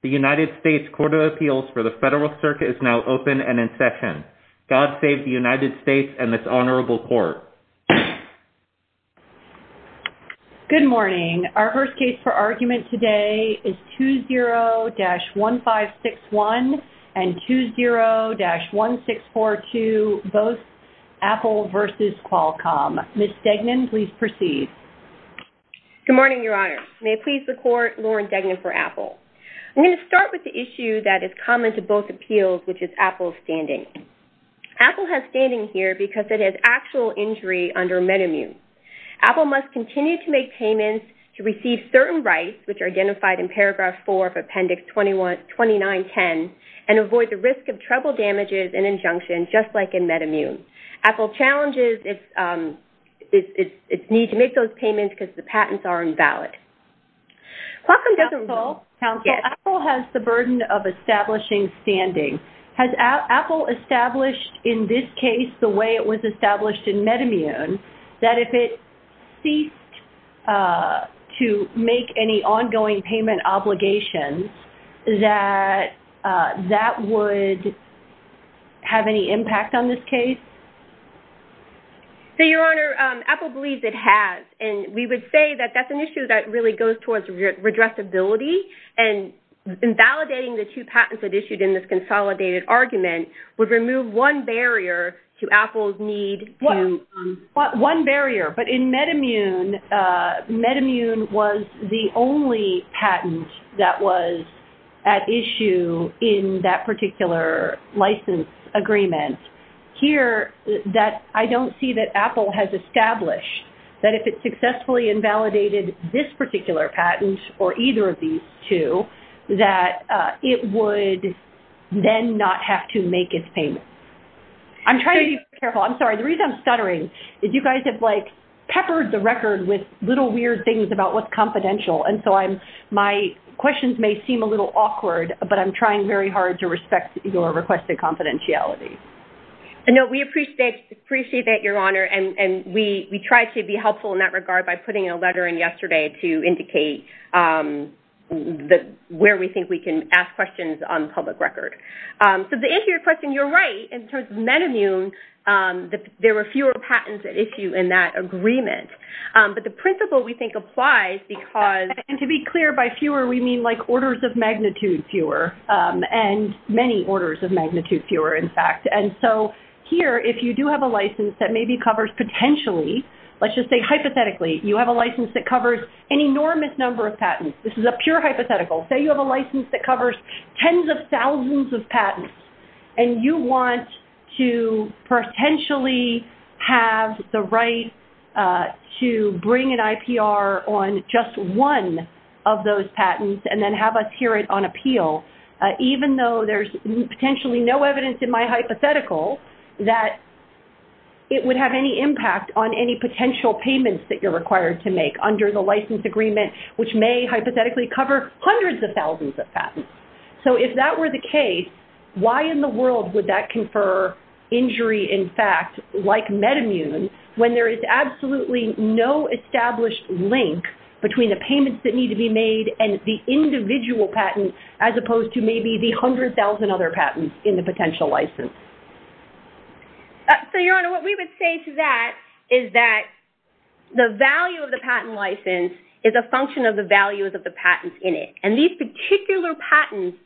The United States Court of Appeals for the Federal Circuit is now open and in session. God save the United States and this Honorable Court. Good morning. Our first case for argument today is 20-1561 and 20-1642, both Apple v. Qualcomm. Ms. Degnan, please proceed. Good morning, Your Honor. May it please the Court, Lauren Degnan for Apple. I'm going to start with the issue that is common to both appeals, which is Apple's standing. Apple has standing here because it has actual injury under MedImmune. Apple must continue to make payments to receive certain rights, which are identified in Paragraph 4 of Appendix 2910, and avoid the risk of trouble damages and injunctions, just like in MedImmune. Apple challenges its need to make those payments because the patents are invalid. Qualcomm doesn't rule that Apple has the burden of establishing standing. Has Apple established in this case the way it was established in MedImmune, that if it ceased to make any ongoing payment obligations, that that would have any impact on this case? So, Your Honor, Apple believes it has, and we would say that that's an issue that really goes towards redressability, and invalidating the two patents that are issued in this consolidated argument would remove one barrier to Apple's need to... One barrier, but in MedImmune, MedImmune was the only patent that was at issue in that particular license agreement. Here, I don't see that Apple has established that if it successfully invalidated this particular patent or either of these two, that it would then not have to make its payment. I'm trying to be careful. I'm sorry. The reason I'm stuttering is you guys have, like, peppered the record with little weird things about what's confidential, and so my questions may seem a little awkward, but I'm trying very hard to respect your requested confidentiality. No, we appreciate it, Your Honor, and we try to be helpful in that regard by putting a letter in yesterday to indicate where we think we can ask questions on public record. So, to answer your question, you're right. In terms of MedImmune, there were fewer patents at issue in that agreement, but the principle we think applies because... And to be clear, by fewer, we mean, like, orders of magnitude fewer, and many orders of magnitude fewer, in fact. Here, if you do have a license that maybe covers potentially, let's just say hypothetically, you have a license that covers an enormous number of patents. This is a pure hypothetical. Say you have a license that covers tens of thousands of patents, and you want to potentially have the right to bring an IPR on just one of those patents and then have us hear it on appeal, even though there's potentially no evidence in my hypothetical that it would have any impact on any potential payments that you're required to make under the license agreement, which may hypothetically cover hundreds of thousands of patents. So, if that were the case, why in the world would that confer injury, in fact, like MedImmune, when there is absolutely no established link between the payments that need to be made and the individual patent as opposed to maybe the 100,000 other patents in the potential license? So, Your Honor, what we would say to that is that the value of the patent license is a function of the values of the patents in it. And these particular patents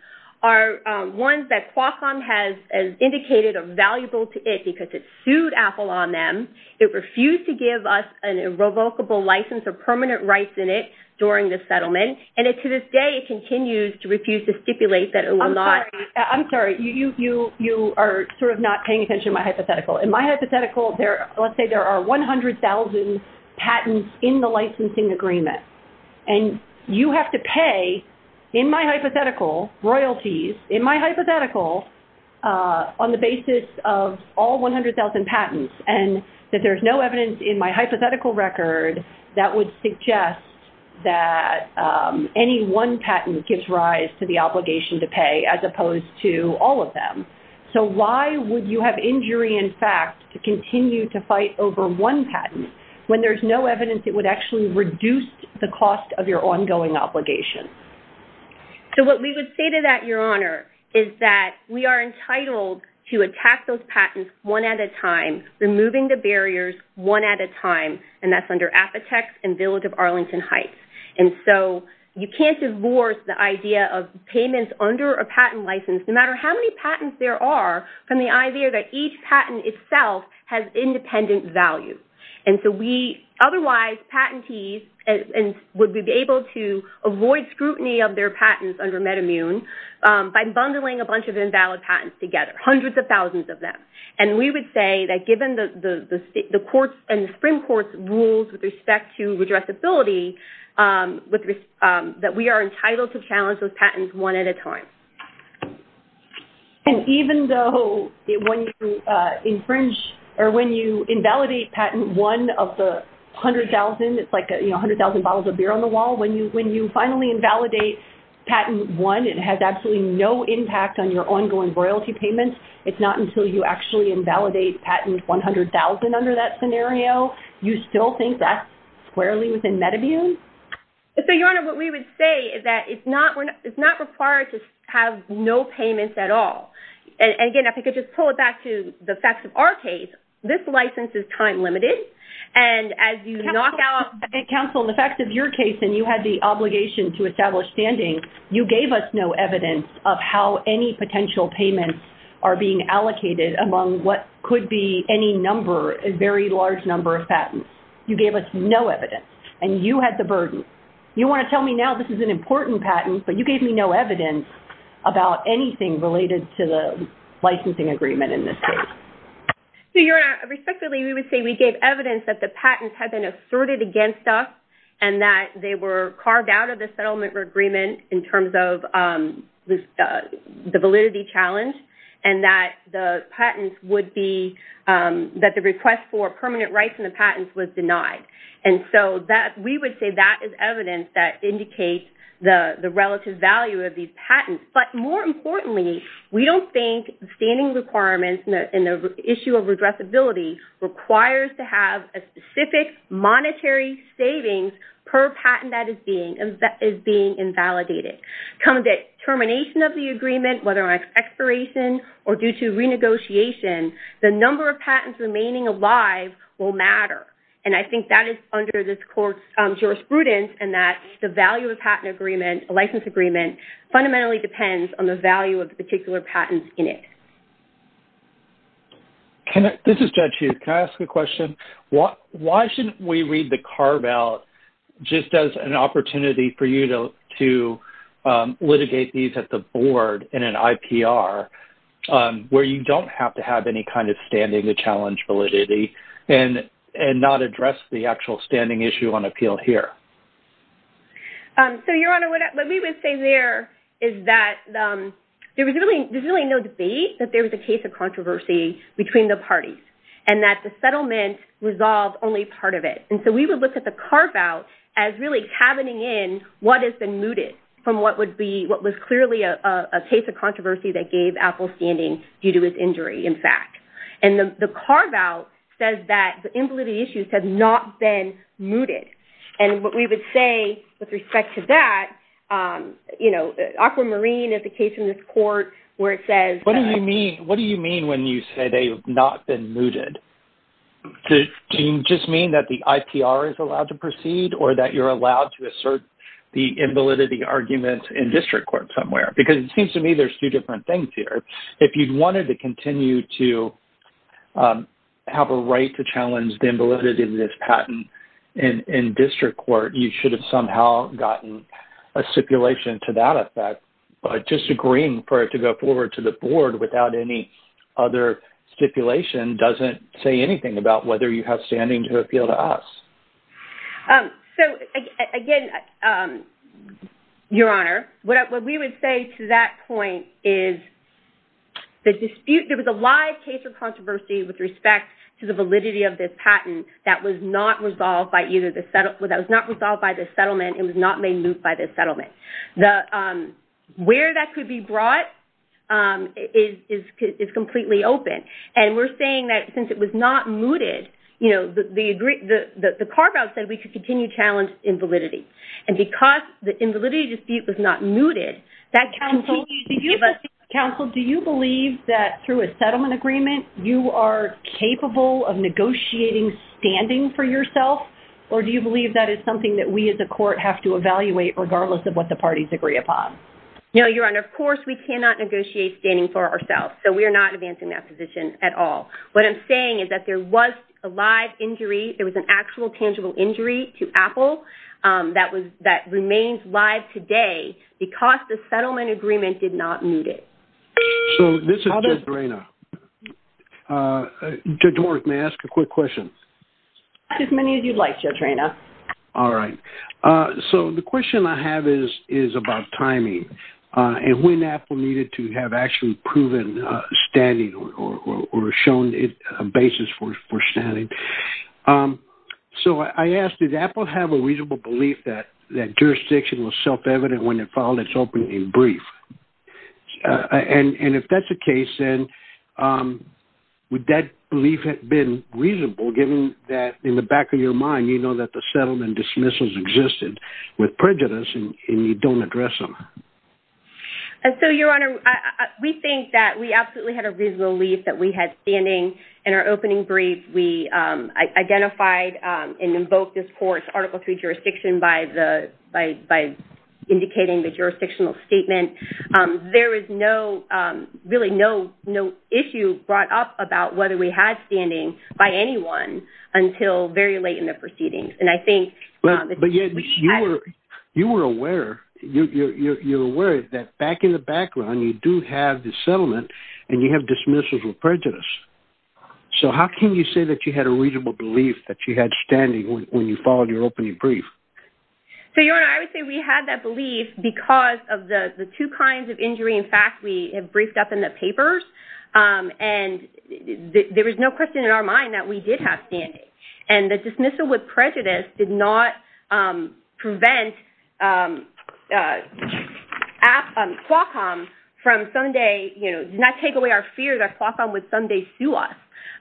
are ones that Qualcomm has indicated are valuable to it because it sued Apple on them. It refused to give us an irrevocable license or permanent rights in it during the settlement. And to this day, it continues to refuse to stipulate that it will not. I'm sorry. I'm sorry. You are sort of not paying attention to my hypothetical. In my hypothetical, let's say there are 100,000 patents in the licensing agreement. And you have to pay, in my hypothetical, royalties, in my hypothetical, on the basis of all 100,000 any one patent gives rise to the obligation to pay as opposed to all of them. So, why would you have injury in fact to continue to fight over one patent when there's no evidence it would actually reduce the cost of your ongoing obligation? So, what we would say to that, Your Honor, is that we are entitled to attack those patents one at a time, removing the barriers one at a time, and that's under Apotex and Village of Arlington Heights. And so, you can't divorce the idea of payments under a patent license, no matter how many patents there are, from the idea that each patent itself has independent value. And so, otherwise, patentees would be able to avoid scrutiny of their patents under MedImmune by bundling a bunch of invalid patents together, hundreds of thousands of them. And we would say that given the courts and the Supreme Court's rules with respect to with that we are entitled to challenge those patents one at a time. And even though when you invalidate patent one of the 100,000, it's like 100,000 bottles of beer on the wall, when you finally invalidate patent one, it has absolutely no impact on your ongoing royalty payments. It's not until you actually invalidate patent 100,000 under that scenario, you still think that's squarely within MedImmune? So, Your Honor, what we would say is that it's not required to have no payments at all. And again, if I could just pull it back to the facts of our case, this license is time limited. And as you knock out... Counsel, in the facts of your case, and you had the obligation to establish standing, you gave us no evidence of how any potential payments are being allocated among what could be any number, a very large number of patents. You gave us no evidence. And you had the burden. You want to tell me now this is an important patent, but you gave me no evidence about anything related to the licensing agreement in this case. So, Your Honor, respectively, we would say we gave evidence that the patents had been asserted against us, and that they were carved out of the settlement agreement in terms of the validity challenge, and that the patents would be... was denied. And so, we would say that is evidence that indicates the relative value of these patents. But more importantly, we don't think the standing requirements in the issue of redressability requires to have a specific monetary savings per patent that is being invalidated. Come the termination of the agreement, whether on expiration or due to renegotiation, the number of patents remaining alive will matter. And I think that is under this court's jurisprudence, and that the value of a patent agreement, a license agreement, fundamentally depends on the value of the particular patents in it. This is Judge Huth. Can I ask a question? Why shouldn't we read the carve-out just as an opportunity for you to litigate these at an IPR, where you don't have to have any kind of standing to challenge validity, and not address the actual standing issue on appeal here? So, Your Honor, what we would say there is that there was really no debate that there was a case of controversy between the parties, and that the settlement resolved only part of it. And so, we would look at the carve-out as really cabining in what has been mooted from what would clearly be a case of controversy that gave Apple standing due to its injury, in fact. And the carve-out says that the invalidity issues have not been mooted. And what we would say with respect to that, you know, Aquamarine is the case in this court where it says- What do you mean when you say they have not been mooted? Do you just mean that the IPR is allowed to proceed, or that you're allowed to assert the invalidity argument in district court somewhere? Because it seems to me there's two different things here. If you wanted to continue to have a right to challenge the invalidity of this patent in district court, you should have somehow gotten a stipulation to that effect. But just agreeing for it to go forward to the board without any other stipulation doesn't say anything about whether you have standing to appeal to us. So, again, Your Honor, what we would say to that point is the dispute- There was a live case of controversy with respect to the validity of this patent that was not resolved by either the- That was not resolved by the settlement. It was not made moot by the settlement. The where that could be brought is completely open. And we're saying that since it was not mooted, the carve-out said we could continue to challenge invalidity. And because the invalidity dispute was not mooted, that counsel- Counsel, do you believe that through a settlement agreement, you are capable of negotiating standing for yourself? Or do you believe that is something that we as a court have to evaluate regardless of what the parties agree upon? No, Your Honor. Of course, we cannot negotiate standing for ourselves. So, we are not advancing that position at all. What I'm saying is that there was a live injury. There was an actual tangible injury to Apple that was- that remains live today because the settlement agreement did not moot it. So, this is Judge Reyna. Judge Warrick, may I ask a quick question? As many as you'd like, Judge Reyna. All right. So, the question I have is about timing and when Apple needed to have actually proven standing or shown a basis for standing. So, I ask, did Apple have a reasonable belief that jurisdiction was self-evident when it filed its opening brief? And if that's the case, then would that belief have been reasonable given that in the back of your mind, you know that the settlement dismissals existed with prejudice and you don't address them? And so, Your Honor, we think that we absolutely had a reasonable belief that we had standing in our opening brief. We identified and invoked this court's Article 3 jurisdiction by the- by indicating the jurisdictional statement. There is no- really no issue brought up about whether we had standing by anyone until very late in the proceedings. And I think- But yet, you were- you were aware- you're aware that back in the background, you do have the settlement and you have dismissals with prejudice. So, how can you say that you had a reasonable belief that you had standing when you filed your opening brief? So, Your Honor, I would say we had that belief because of the two kinds of injury. In fact, we have briefed up in the papers and there was no question in our mind that we did have standing. And the dismissal with prejudice did not prevent Qualcomm from someday, you know, did not take away our fear that Qualcomm would someday sue us.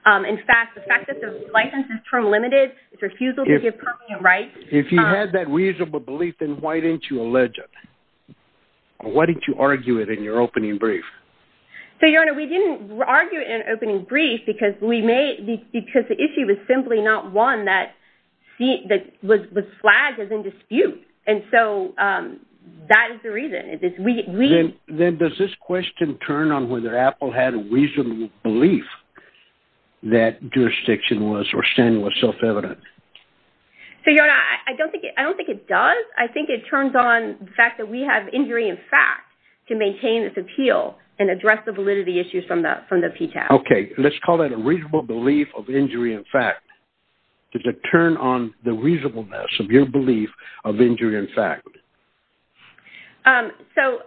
In fact, the fact that the license is term limited, it's refusal to give permanent rights- If you had that reasonable belief, then why didn't you allege it? Why didn't you argue it in your opening brief? So, Your Honor, we didn't argue it in opening brief because we may- because the issue was simply not one that was flagged as in dispute. And so, that is the reason. Then does this question turn on whether Apple had a reasonable belief that jurisdiction was or standing was self-evident? So, Your Honor, I don't think- I don't think it does. I think it turns on the fact that we have injury in fact to maintain this appeal and address the validity issues from the PTAC. Okay. Let's call it a reasonable belief of injury in fact to turn on the reasonableness of your belief of injury in fact. So,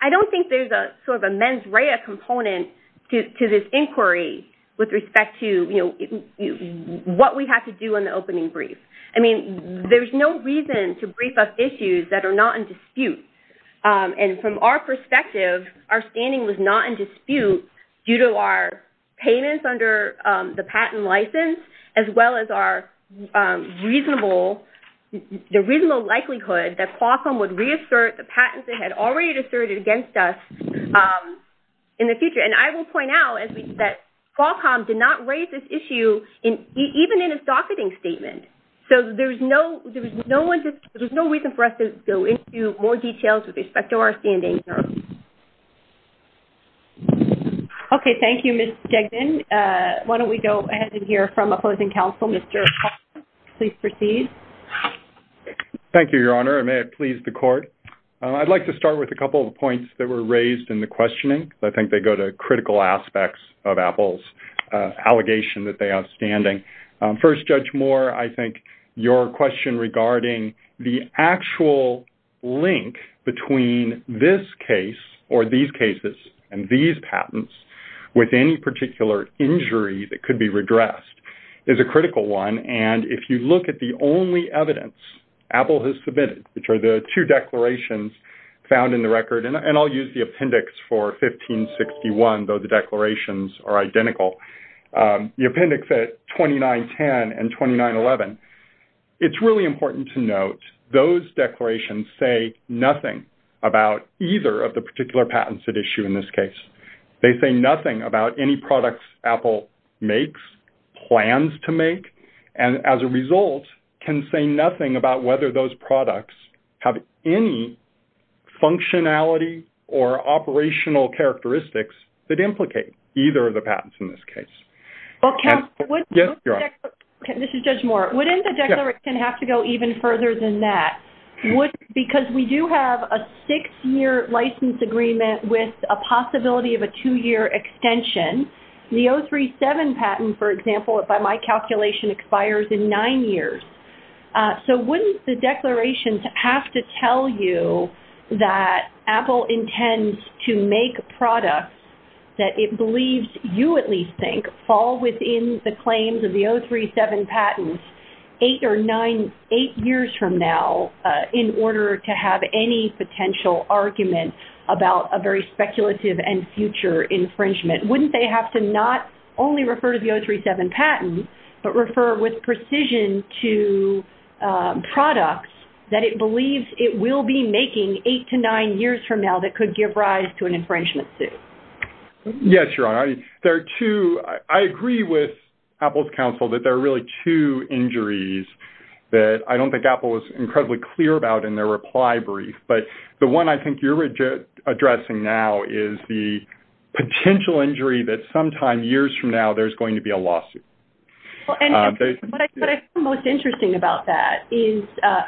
I don't think there's a sort of a mens rea component to this inquiry with respect to, you know, what we have to do in the opening brief. I mean, there's no reason to brief us issues that are not in dispute. And from our perspective, our standing was not in dispute due to our payments under the patent license as well as our reasonable- the reasonable likelihood that Qualcomm would reassert the patents they had already asserted against us in the future. And I will point out that Qualcomm did not raise this issue even in its docketing statement. So, there's no- there's no one- there's no reason for us to go into more details with respect to our standing. Okay. Thank you, Ms. Degden. Why don't we go ahead and hear from opposing counsel, Mr. Hall. Please proceed. Thank you, Your Honor. And may it please the Court. I'd like to start with a couple of points that were raised in the questioning. I think they go to critical aspects of Apple's allegation that they have standing. First, Judge Moore, I think your question regarding the actual link between this case or these cases and these patents with any particular injury that could be redressed is a critical one. And if you look at the only evidence Apple has submitted, which are the two declarations found in the record- and I'll use the appendix for 1561, though the declarations are identical- the appendix at 2910 and 2911, it's really important to note those declarations say nothing about either of the particular patents at issue in this case. They say nothing about any products Apple makes, plans to make, and as a result, can say nothing about whether those products have any functionality or operational characteristics that implicate either of the patents in this case. Well, Counselor, wouldn't- Yes, Your Honor. This is Judge Moore. Wouldn't the declaration have to go even further than that? Because we do have a six-year license agreement with a possibility of a two-year extension. The 037 patent, for example, by my calculation, expires in nine years. So wouldn't the declarations have to tell you that Apple intends to make products that it believes you at least think fall within the claims of the 037 patents eight years from now in order to have any potential argument about a very speculative and future infringement? Wouldn't they have to not only refer to the 037 patent, but refer with precision to products that it believes it will be making eight to nine years from now that could give rise to an infringement suit? Yes, Your Honor. There are two-I agree with Apple's counsel that there are really two injuries that I don't think Apple was incredibly clear about in their reply brief. But the one I think you're addressing now is the potential injury that sometime years from now there's going to be a lawsuit. Well, and what I find most interesting about that is,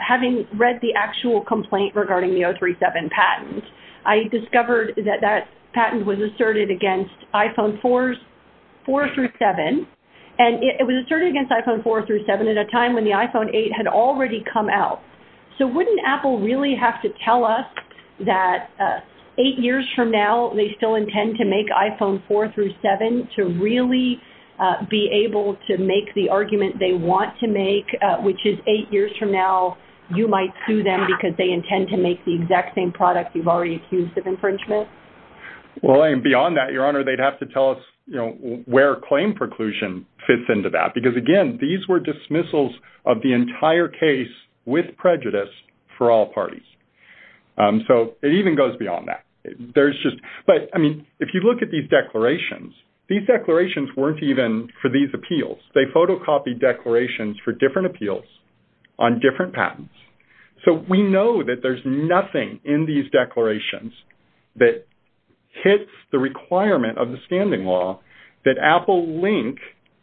having read the actual complaint regarding the 037 patent, I discovered that that patent was asserted against iPhone 4 through 7, and it was asserted against iPhone 4 through 7 at a time when the iPhone 8 had already come out. So wouldn't Apple really have to tell us that eight years from now they still intend to make iPhone 4 through 7 to really be able to make the argument they want to make, which is eight years from now you might sue them because they intend to make the exact same product you've already accused of infringement? Well, and beyond that, Your Honor, they'd have to tell us where claim preclusion fits into that. Because again, these were dismissals of the entire case with prejudice for all parties. So it even goes beyond that. There's just-but, I mean, if you look at these declarations, these declarations weren't even for these appeals. They photocopied declarations for different appeals on different patents. So we know that there's nothing in these declarations that hits the requirement of the standing law that Apple link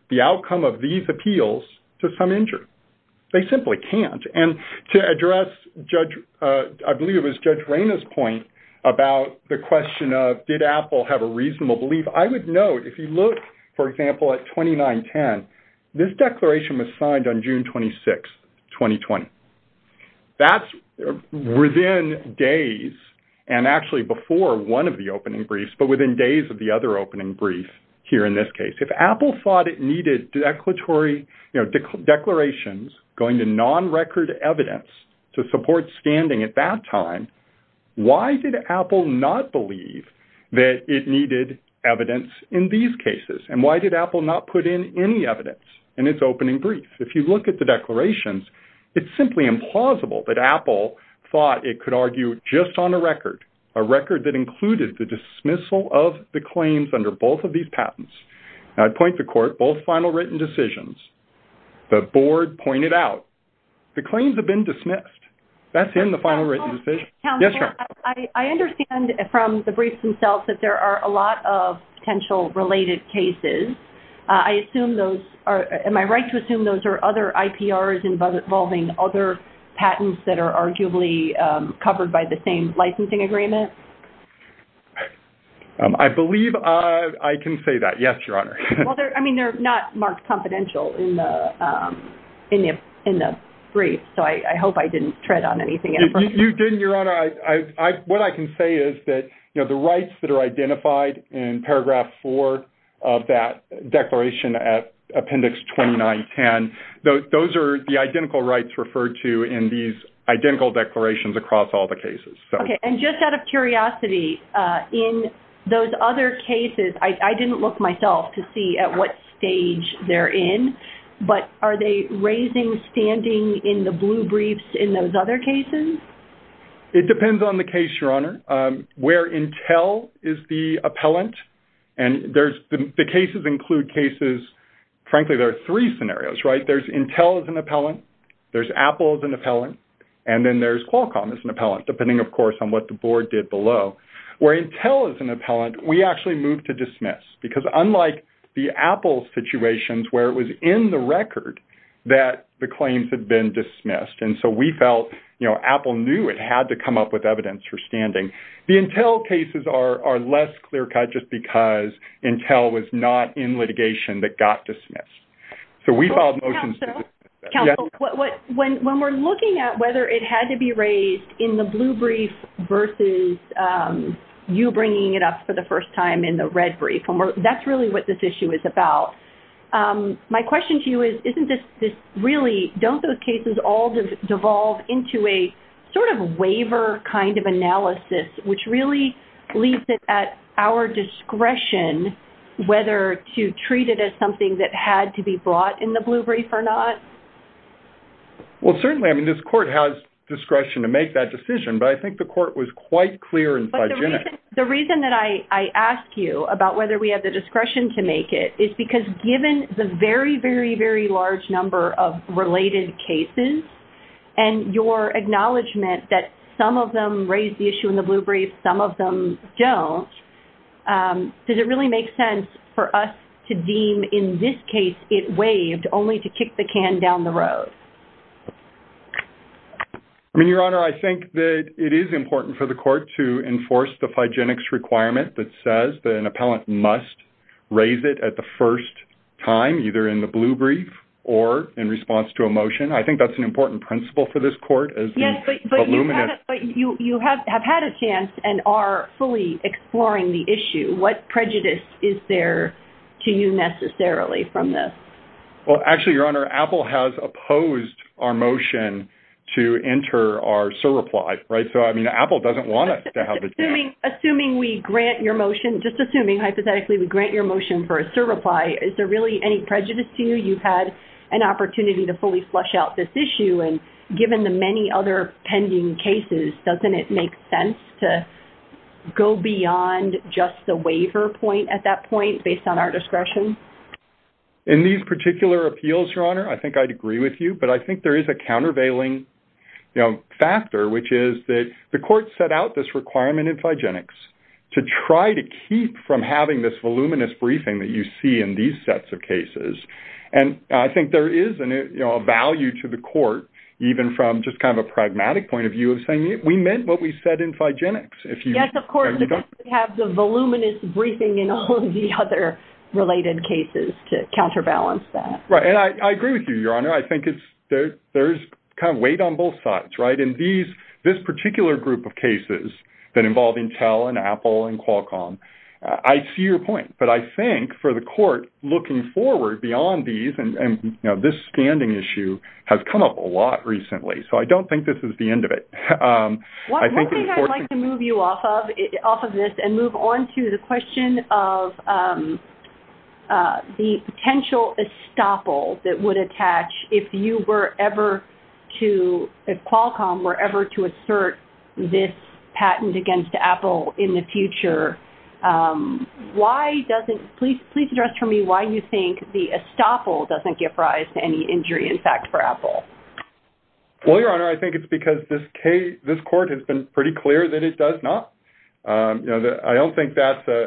the outcome of these appeals to some injury. They simply can't. And to address Judge-I believe it was Judge Reyna's point about the question of, did Apple have a reasonable belief? I would note, if you look, for example, at 2910, this declaration was signed on June 26, 2020. That's within days and actually before one of the opening briefs, but within days of the other opening brief here in this case. If Apple thought it needed declarations going to non-record evidence to support standing at that time, why did Apple not believe that it needed evidence in these cases? And why did Apple not put in any evidence in its opening brief? If you look at the declarations, it's simply implausible that Apple thought it could argue just on a record, a record that included the dismissal of the claims under both of these patents. And I'd point the court, both final written decisions, the board pointed out the claims have been dismissed. That's in the final written decision. Counselor, I understand from the briefs themselves that there are a lot of potential related cases. I assume those are, am I right to assume those are other IPRs involving other patents that are arguably covered by the same licensing agreement? I believe I can say that. Yes, Your Honor. I mean, they're not marked confidential in the brief. So I hope I didn't tread on anything. You didn't, Your Honor. What I can say is that, you know, the rights that are identified in paragraph four of that declaration at appendix 2910, those are the identical rights referred to in these identical declarations across all the cases. Okay. And just out of curiosity, in those other cases, I didn't look myself to see at what stage they're in, but are they raising, standing in the blue briefs in those other cases? It depends on the case, Your Honor. Where Intel is the appellant, and there's, the cases include cases, frankly, there are three scenarios, right? There's Intel as an appellant, there's Apple as an appellant, and then there's Qualcomm as an appellant, depending, of course, on what the board did below. Where Intel is an appellant, we actually moved to dismiss. Because unlike the Apple situations, where it was in the record that the claims had been dismissed, and so we felt, you know, Apple knew it had to come up with evidence for standing, the Intel cases are less clear-cut just because Intel was not in litigation that got dismissed. So we filed motions to dismiss. Counsel, when we're looking at whether it had to be raised in the blue brief versus you bringing it up for the first time in the red brief, and that's really what this issue is about, my question to you is, isn't this really, don't those cases all devolve into a sort of waiver kind of analysis, which really leaves it at our discretion whether to treat it as something that had to be brought in the blue brief or not? Well, certainly, I mean, this court has discretion to make that decision, but I think the court was quite clear and hygienic. The reason that I ask you about whether we have the discretion to make it is because given the very, very, very large number of related cases and your acknowledgement that some of them raise the issue in the blue brief, some of them don't, does it really make sense for us to deem in this case it waived only to kick the can down the road? I mean, Your Honor, I think that it is important for the court to enforce the hygienics requirement that says that an appellant must raise it at the first time, either in the blue brief or in response to a motion. I think that's an important principle for this court. Yes, but you have had a chance and are fully exploring the issue. What prejudice is there to you necessarily from this? Well, actually, Your Honor, Apple has opposed our motion to enter our surreply, right? So, I mean, Apple doesn't want us to have the chance. Assuming we grant your motion, just assuming hypothetically we grant your motion for a surreply, is there really any prejudice to you? You've had an opportunity to fully flush out this issue and given the many other pending cases, doesn't it make sense to go beyond just the waiver point at that point based on our discretion? In these particular appeals, Your Honor, I think I'd agree with you. But I think there is a countervailing factor, which is that the court set out this requirement in hygienics to try to keep from having this voluminous briefing that you see in these sets of cases. And I think there is a value to the court, even from just kind of a pragmatic point of view of saying, we meant what we said in hygienics. Yes, of course, you have to have the voluminous briefing in all of the other related cases to counterbalance that. Right. And I agree with you, Your Honor. I think there's kind of weight on both sides, right? And this particular group of cases that involve Intel and Apple and Qualcomm, I see your point. But I think for the court looking forward beyond these, and this standing issue has come up a lot recently. So, I don't think this is the end of it. One thing I'd like to move you off of this and move on to the question of the potential estoppel that would attach if you were ever to, if Qualcomm were ever to assert this patent against Apple in the future, why doesn't, please address for me why you think the estoppel doesn't give rise to any injury, in fact, for Apple? Well, Your Honor, I think it's because this case, this court has been pretty clear that it does not. I don't think that's a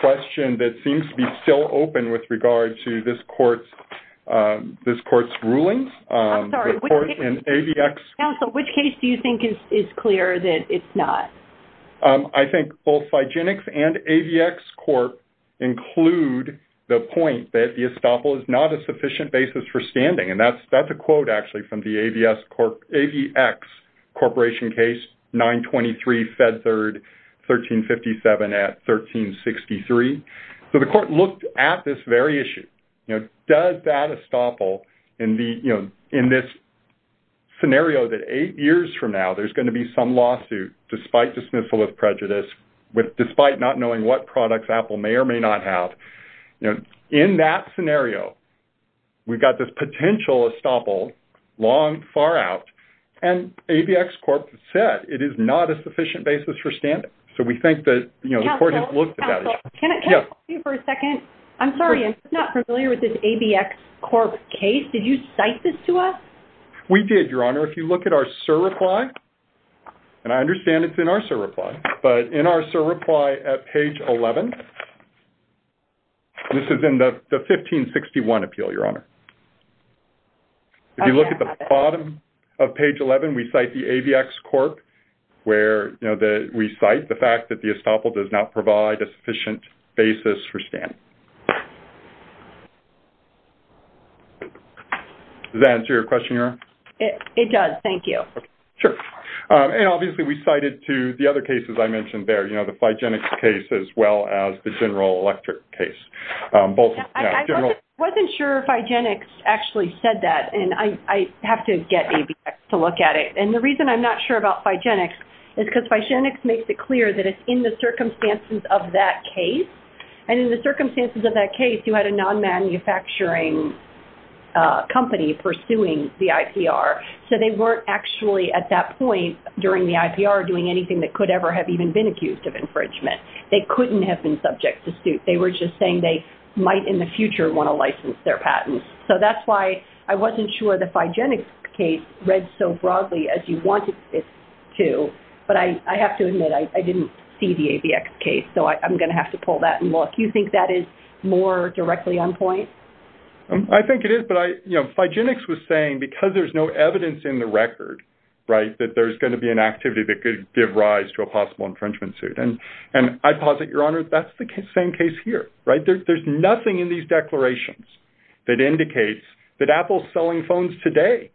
question that seems to be still open with regard to this court's rulings. I'm sorry, which case, counsel, which case do you think is clear that it's not? I think both hygienics and AVX court include the point that the estoppel is not a sufficient basis for standing. That's a quote, actually, from the AVX corporation case, 923 Fed Third, 1357 at 1363. So, the court looked at this very issue. Does that estoppel in this scenario that eight years from now there's going to be some lawsuit despite dismissal of prejudice, despite not knowing what products Apple may or may not have, you know, in that scenario, we've got this potential estoppel long, far out, and AVX corp said it is not a sufficient basis for standing. So, we think that, you know, the court has looked at that issue. Counsel, counsel, can I talk to you for a second? I'm sorry, I'm just not familiar with this AVX corp case. Did you cite this to us? We did, Your Honor. If you look at our surreply, and I understand it's in our surreply, but in our surreply at page 11, this is in the 1561 appeal, Your Honor. If you look at the bottom of page 11, we cite the AVX corp where, you know, that we cite the fact that the estoppel does not provide a sufficient basis for standing. Does that answer your question, Your Honor? It does. Thank you. Sure. And obviously, we cited to the other cases I mentioned there, you know, the Phygenics case, as well as the General Electric case. I wasn't sure Phygenics actually said that, and I have to get AVX to look at it. And the reason I'm not sure about Phygenics is because Phygenics makes it clear that it's in the circumstances of that case, and in the circumstances of that case, you had a non-manufacturing company pursuing the IPR. So they weren't actually at that point during the IPR doing anything that could ever have even been accused of infringement. They couldn't have been subject to suit. They were just saying they might in the future want to license their patents. So that's why I wasn't sure the Phygenics case read so broadly as you wanted it to. But I have to admit, I didn't see the AVX case. So I'm going to have to pull that and look. You think that is more directly on point? I think it is. But Phygenics was saying, because there's no evidence in the record, right, that there's going to be an activity that could give rise to a possible infringement suit. And I posit, Your Honor, that's the same case here, right? There's nothing in these declarations that indicates that Apple's selling phones today.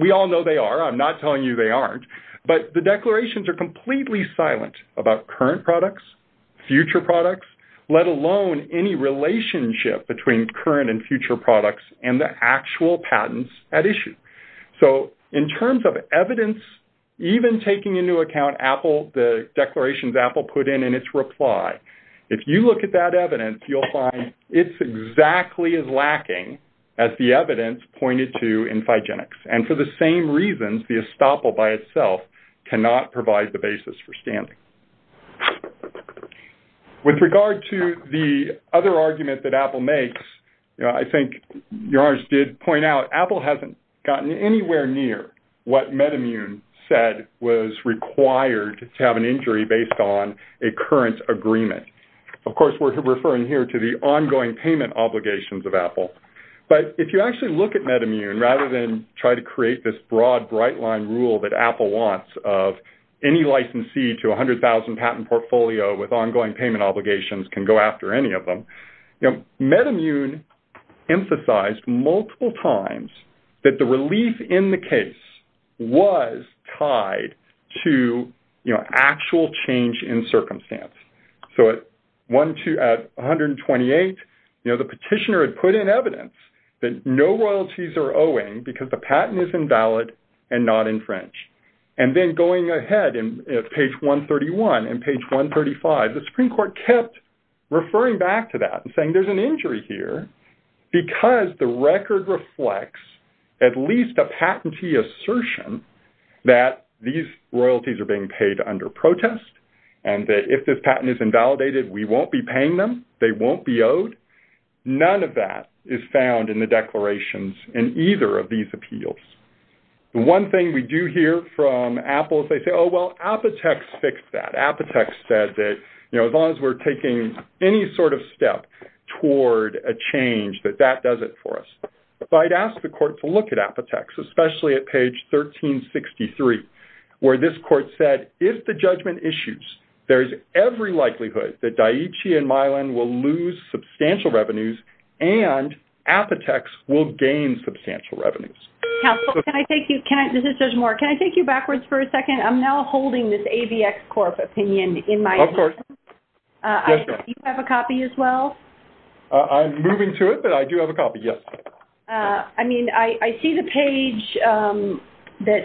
We all know they are. I'm not telling you they aren't. But the declarations are completely silent about current products, future products, let alone any relationship between current and future products and the actual patents at issue. So in terms of evidence, even taking into account the declarations Apple put in in its reply, if you look at that evidence, you'll find it's exactly as lacking as the evidence pointed to in Phygenics. And for the same reasons, the estoppel by itself cannot provide the basis for standing. With regard to the other argument that Apple makes, I think Your Honor did point out Apple hasn't gotten anywhere near what MedImmune said was required to have an injury based on a current agreement. Of course, we're referring here to the ongoing payment obligations of Apple. But if you actually look at MedImmune, rather than try to create this broad, bright-line rule that Apple wants of any licensee to 100,000 patent portfolio with ongoing payment obligations can go after any of them, MedImmune emphasized multiple times that the relief in the case was tied to actual change in circumstance. So at 128, the petitioner had put in evidence that no royalties are owing because the patent is invalid and not infringed. And then going ahead in page 131 and page 135, the Supreme Court kept referring back to that and saying there's an injury here because the record reflects at least a patentee assertion that these royalties are being paid under protest and that if this patent is invalidated, we won't be paying them, they won't be owed. None of that is found in the declarations in either of these appeals. The one thing we do hear from Apple is they say, oh, well, Apotex fixed that. Apotex said that, you know, as long as we're taking any sort of step toward a change that that does it for us. So I'd ask the court to look at Apotex, especially at page 1363, where this court said, if the and Apotex will gain substantial revenues. Judge Moore, can I take you backwards for a second? I'm now holding this AVX Corp opinion in my hand. Of course. Do you have a copy as well? I'm moving to it, but I do have a copy. Yes. I mean, I see the page that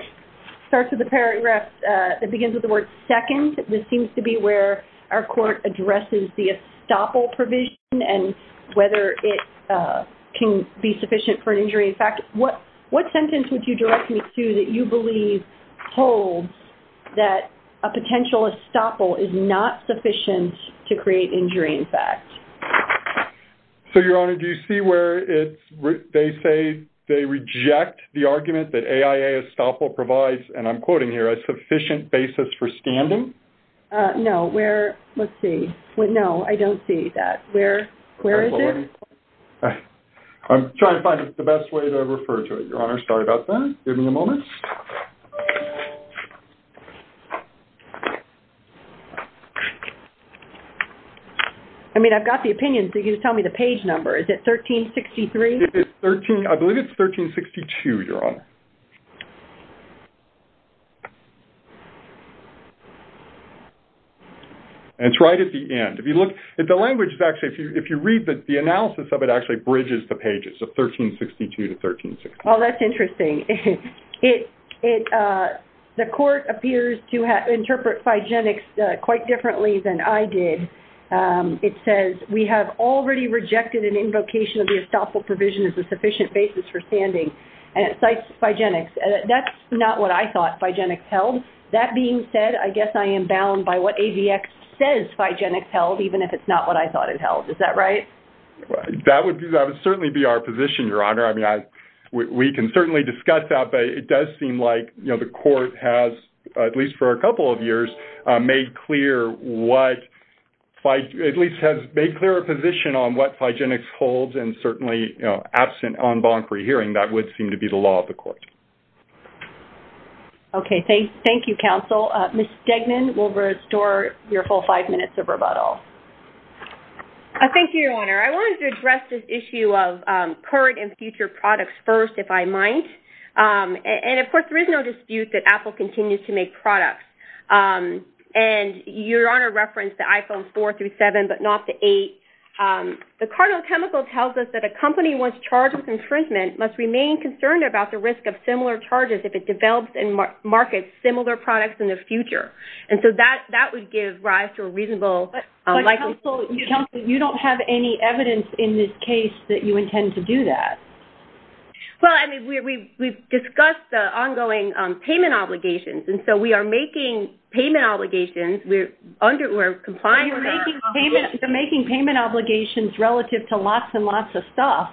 starts with the paragraph that begins with the word second. This seems to be where our court addresses the estoppel provision and whether it can be sufficient for an injury. In fact, what sentence would you direct me to that you believe holds that a potential estoppel is not sufficient to create injury, in fact? So, Your Honor, do you see where it's they say they reject the argument that AIA estoppel provides, and I'm quoting here, a sufficient basis for standing? No, where? Let's see. No, I don't see that. Where is it? I'm trying to find the best way to refer to it, Your Honor. Sorry about that. Give me a moment. I mean, I've got the opinion, so you can tell me the page number. Is it 1363? It's 13, I believe it's 1362, Your Honor. And it's right at the end. If you look, the language is actually, if you read the analysis of it actually bridges the pages of 1362 to 1363. Well, that's interesting. The court appears to interpret Phygenics quite differently than I did. It says, we have already rejected an invocation of the estoppel provision as a sufficient basis for standing. And it cites Phygenics. That's not what I thought Phygenics held. That being said, I guess I am bound by what ABX says Phygenics held, even if it's not what I thought it held. Is that right? That would certainly be our position, Your Honor. I mean, we can certainly discuss that, but it does seem like the court has, at least for a couple of years, made clear what, at least has made clear a position on what Phygenics holds, and certainly absent on bonkery hearing, that would seem to be the law of the court. Okay. Thank you, Counsel. Ms. Stegman will restore your full five minutes of rebuttal. Thank you, Your Honor. I wanted to address this issue of current and future products first, if I might. And of course, there is no dispute that Apple continues to make products. And Your Honor referenced the iPhones 4 through 7, but not the 8. The cardinal chemical tells us that a company once charged with infringement must remain concerned about the risk of similar charges if it develops and markets similar products in the future. And so that would give rise to a reasonable likelihood. But, Counsel, you don't have any evidence in this case that you intend to do that. Well, I mean, we've discussed the ongoing payment obligations. And so we are making payment obligations. We're complying with our obligation. You're making payment obligations relative to lots and lots of stuff.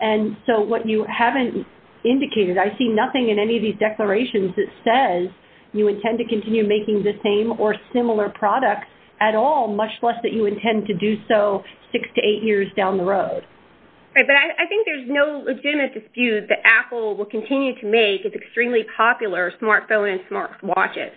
And so what you haven't indicated, I see nothing in any of these declarations that says you intend to continue making the same or similar products at all, much less that you intend to do so six to eight years down the road. Right. But I think there's no legitimate dispute that Apple will continue to make its extremely popular smartphone and smartwatches.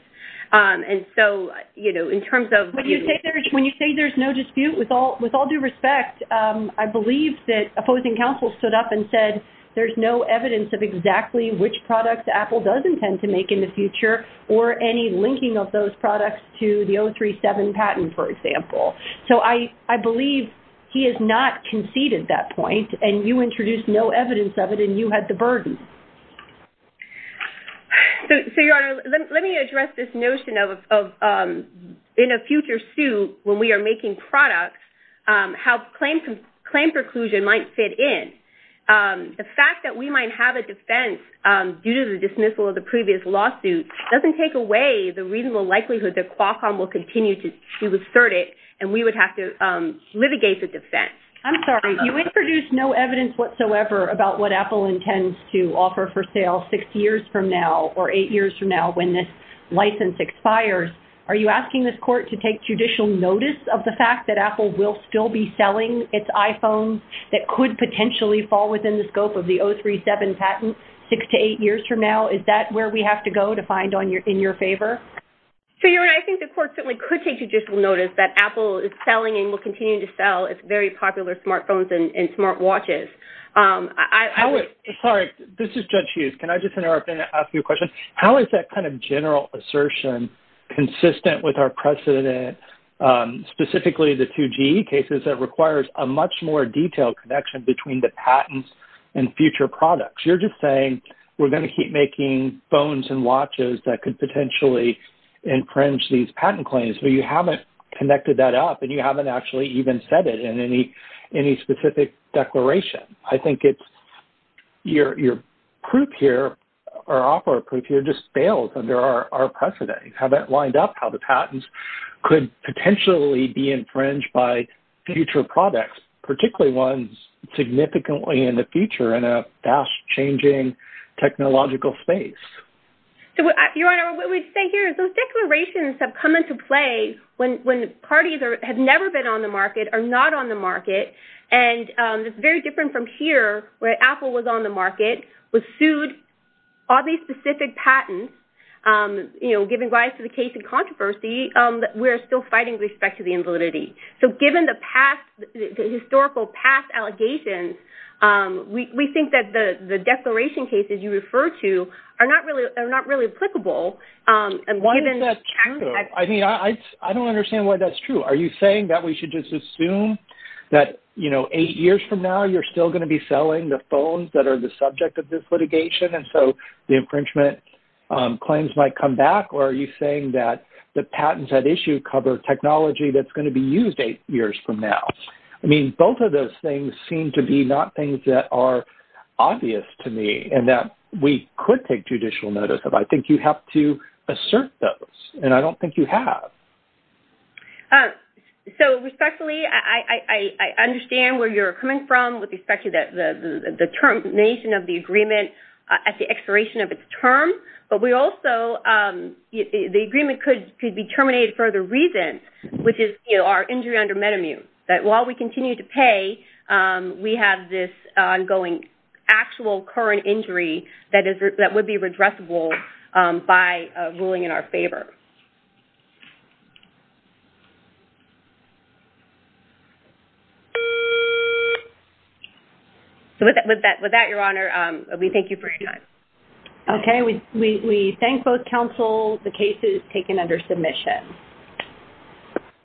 And so, you know, in terms of when you say there's no dispute, with all due respect, I believe that opposing counsel stood up and said there's no evidence of exactly which products Apple does intend to make in the future or any linking of those products to the 037 patent, for example. So I believe he has not conceded that point. And you introduced no evidence of it. And you had the burden. So, Your Honor, let me address this notion of in a future suit, when we are making products, how claim preclusion might fit in. The fact that we might have a defense due to the dismissal of the previous lawsuit doesn't take away the reasonable likelihood that Qualcomm will continue to assert it and we would have to litigate the defense. I'm sorry, you introduced no evidence whatsoever about what Apple intends to offer for sale six years from now or eight years from now when this license expires. Are you asking this court to take judicial notice of the fact that Apple will still be selling its iPhones that could potentially fall within the scope of the 037 patent six to eight years from now? Is that where we have to go to find in your favor? So, Your Honor, I think the court certainly could take judicial notice that Apple is selling and will continue to sell its very popular smartphones and smartwatches. Sorry, this is Judge Hughes. Can I just interrupt and ask you a question? How is that kind of general assertion consistent with our precedent, specifically the 2G cases that requires a much more detailed connection between the patents and future products? You're just saying we're going to keep making phones and watches that could potentially infringe these patent claims, but you haven't connected that up and you haven't actually even said it in any specific declaration. I think your proof here or offer of proof here just fails under our precedent. You haven't lined up how the patents could potentially be infringed by future products, particularly ones significantly in the future in a fast-changing technological space. So, Your Honor, what we say here is those declarations have come into play when parties have never been on the market or not on the market. And it's very different from here, where Apple was on the market, was sued, all these specific patents, you know, giving rise to the case of controversy, that we're still fighting with respect to the invalidity. So, given the past, the historical past allegations, we think that the declaration cases you refer to are not really applicable. Why is that true? I mean, I don't understand why that's true. Are you saying that we should just assume that, you know, eight years from now, you're still going to be selling the phones that are the subject of this litigation, and so the infringement claims might come back? Or are you saying that the patents at issue cover technology that's going to be used eight years from now? I mean, both of those things seem to be not things that are obvious to me and that we could take judicial notice of. I think you have to assert those, and I don't think you have. So, respectfully, I understand where you're coming from with respect to the termination of the agreement at the expiration of its term. But we also, the agreement could be terminated for other reasons, which is, you know, our injury under Metamute, that while we continue to pay, we have this ongoing actual current injury that would be redressable by ruling in our favor. So, with that, Your Honor, we thank you for your time. Okay. We thank both counsel. The case is taken under submission.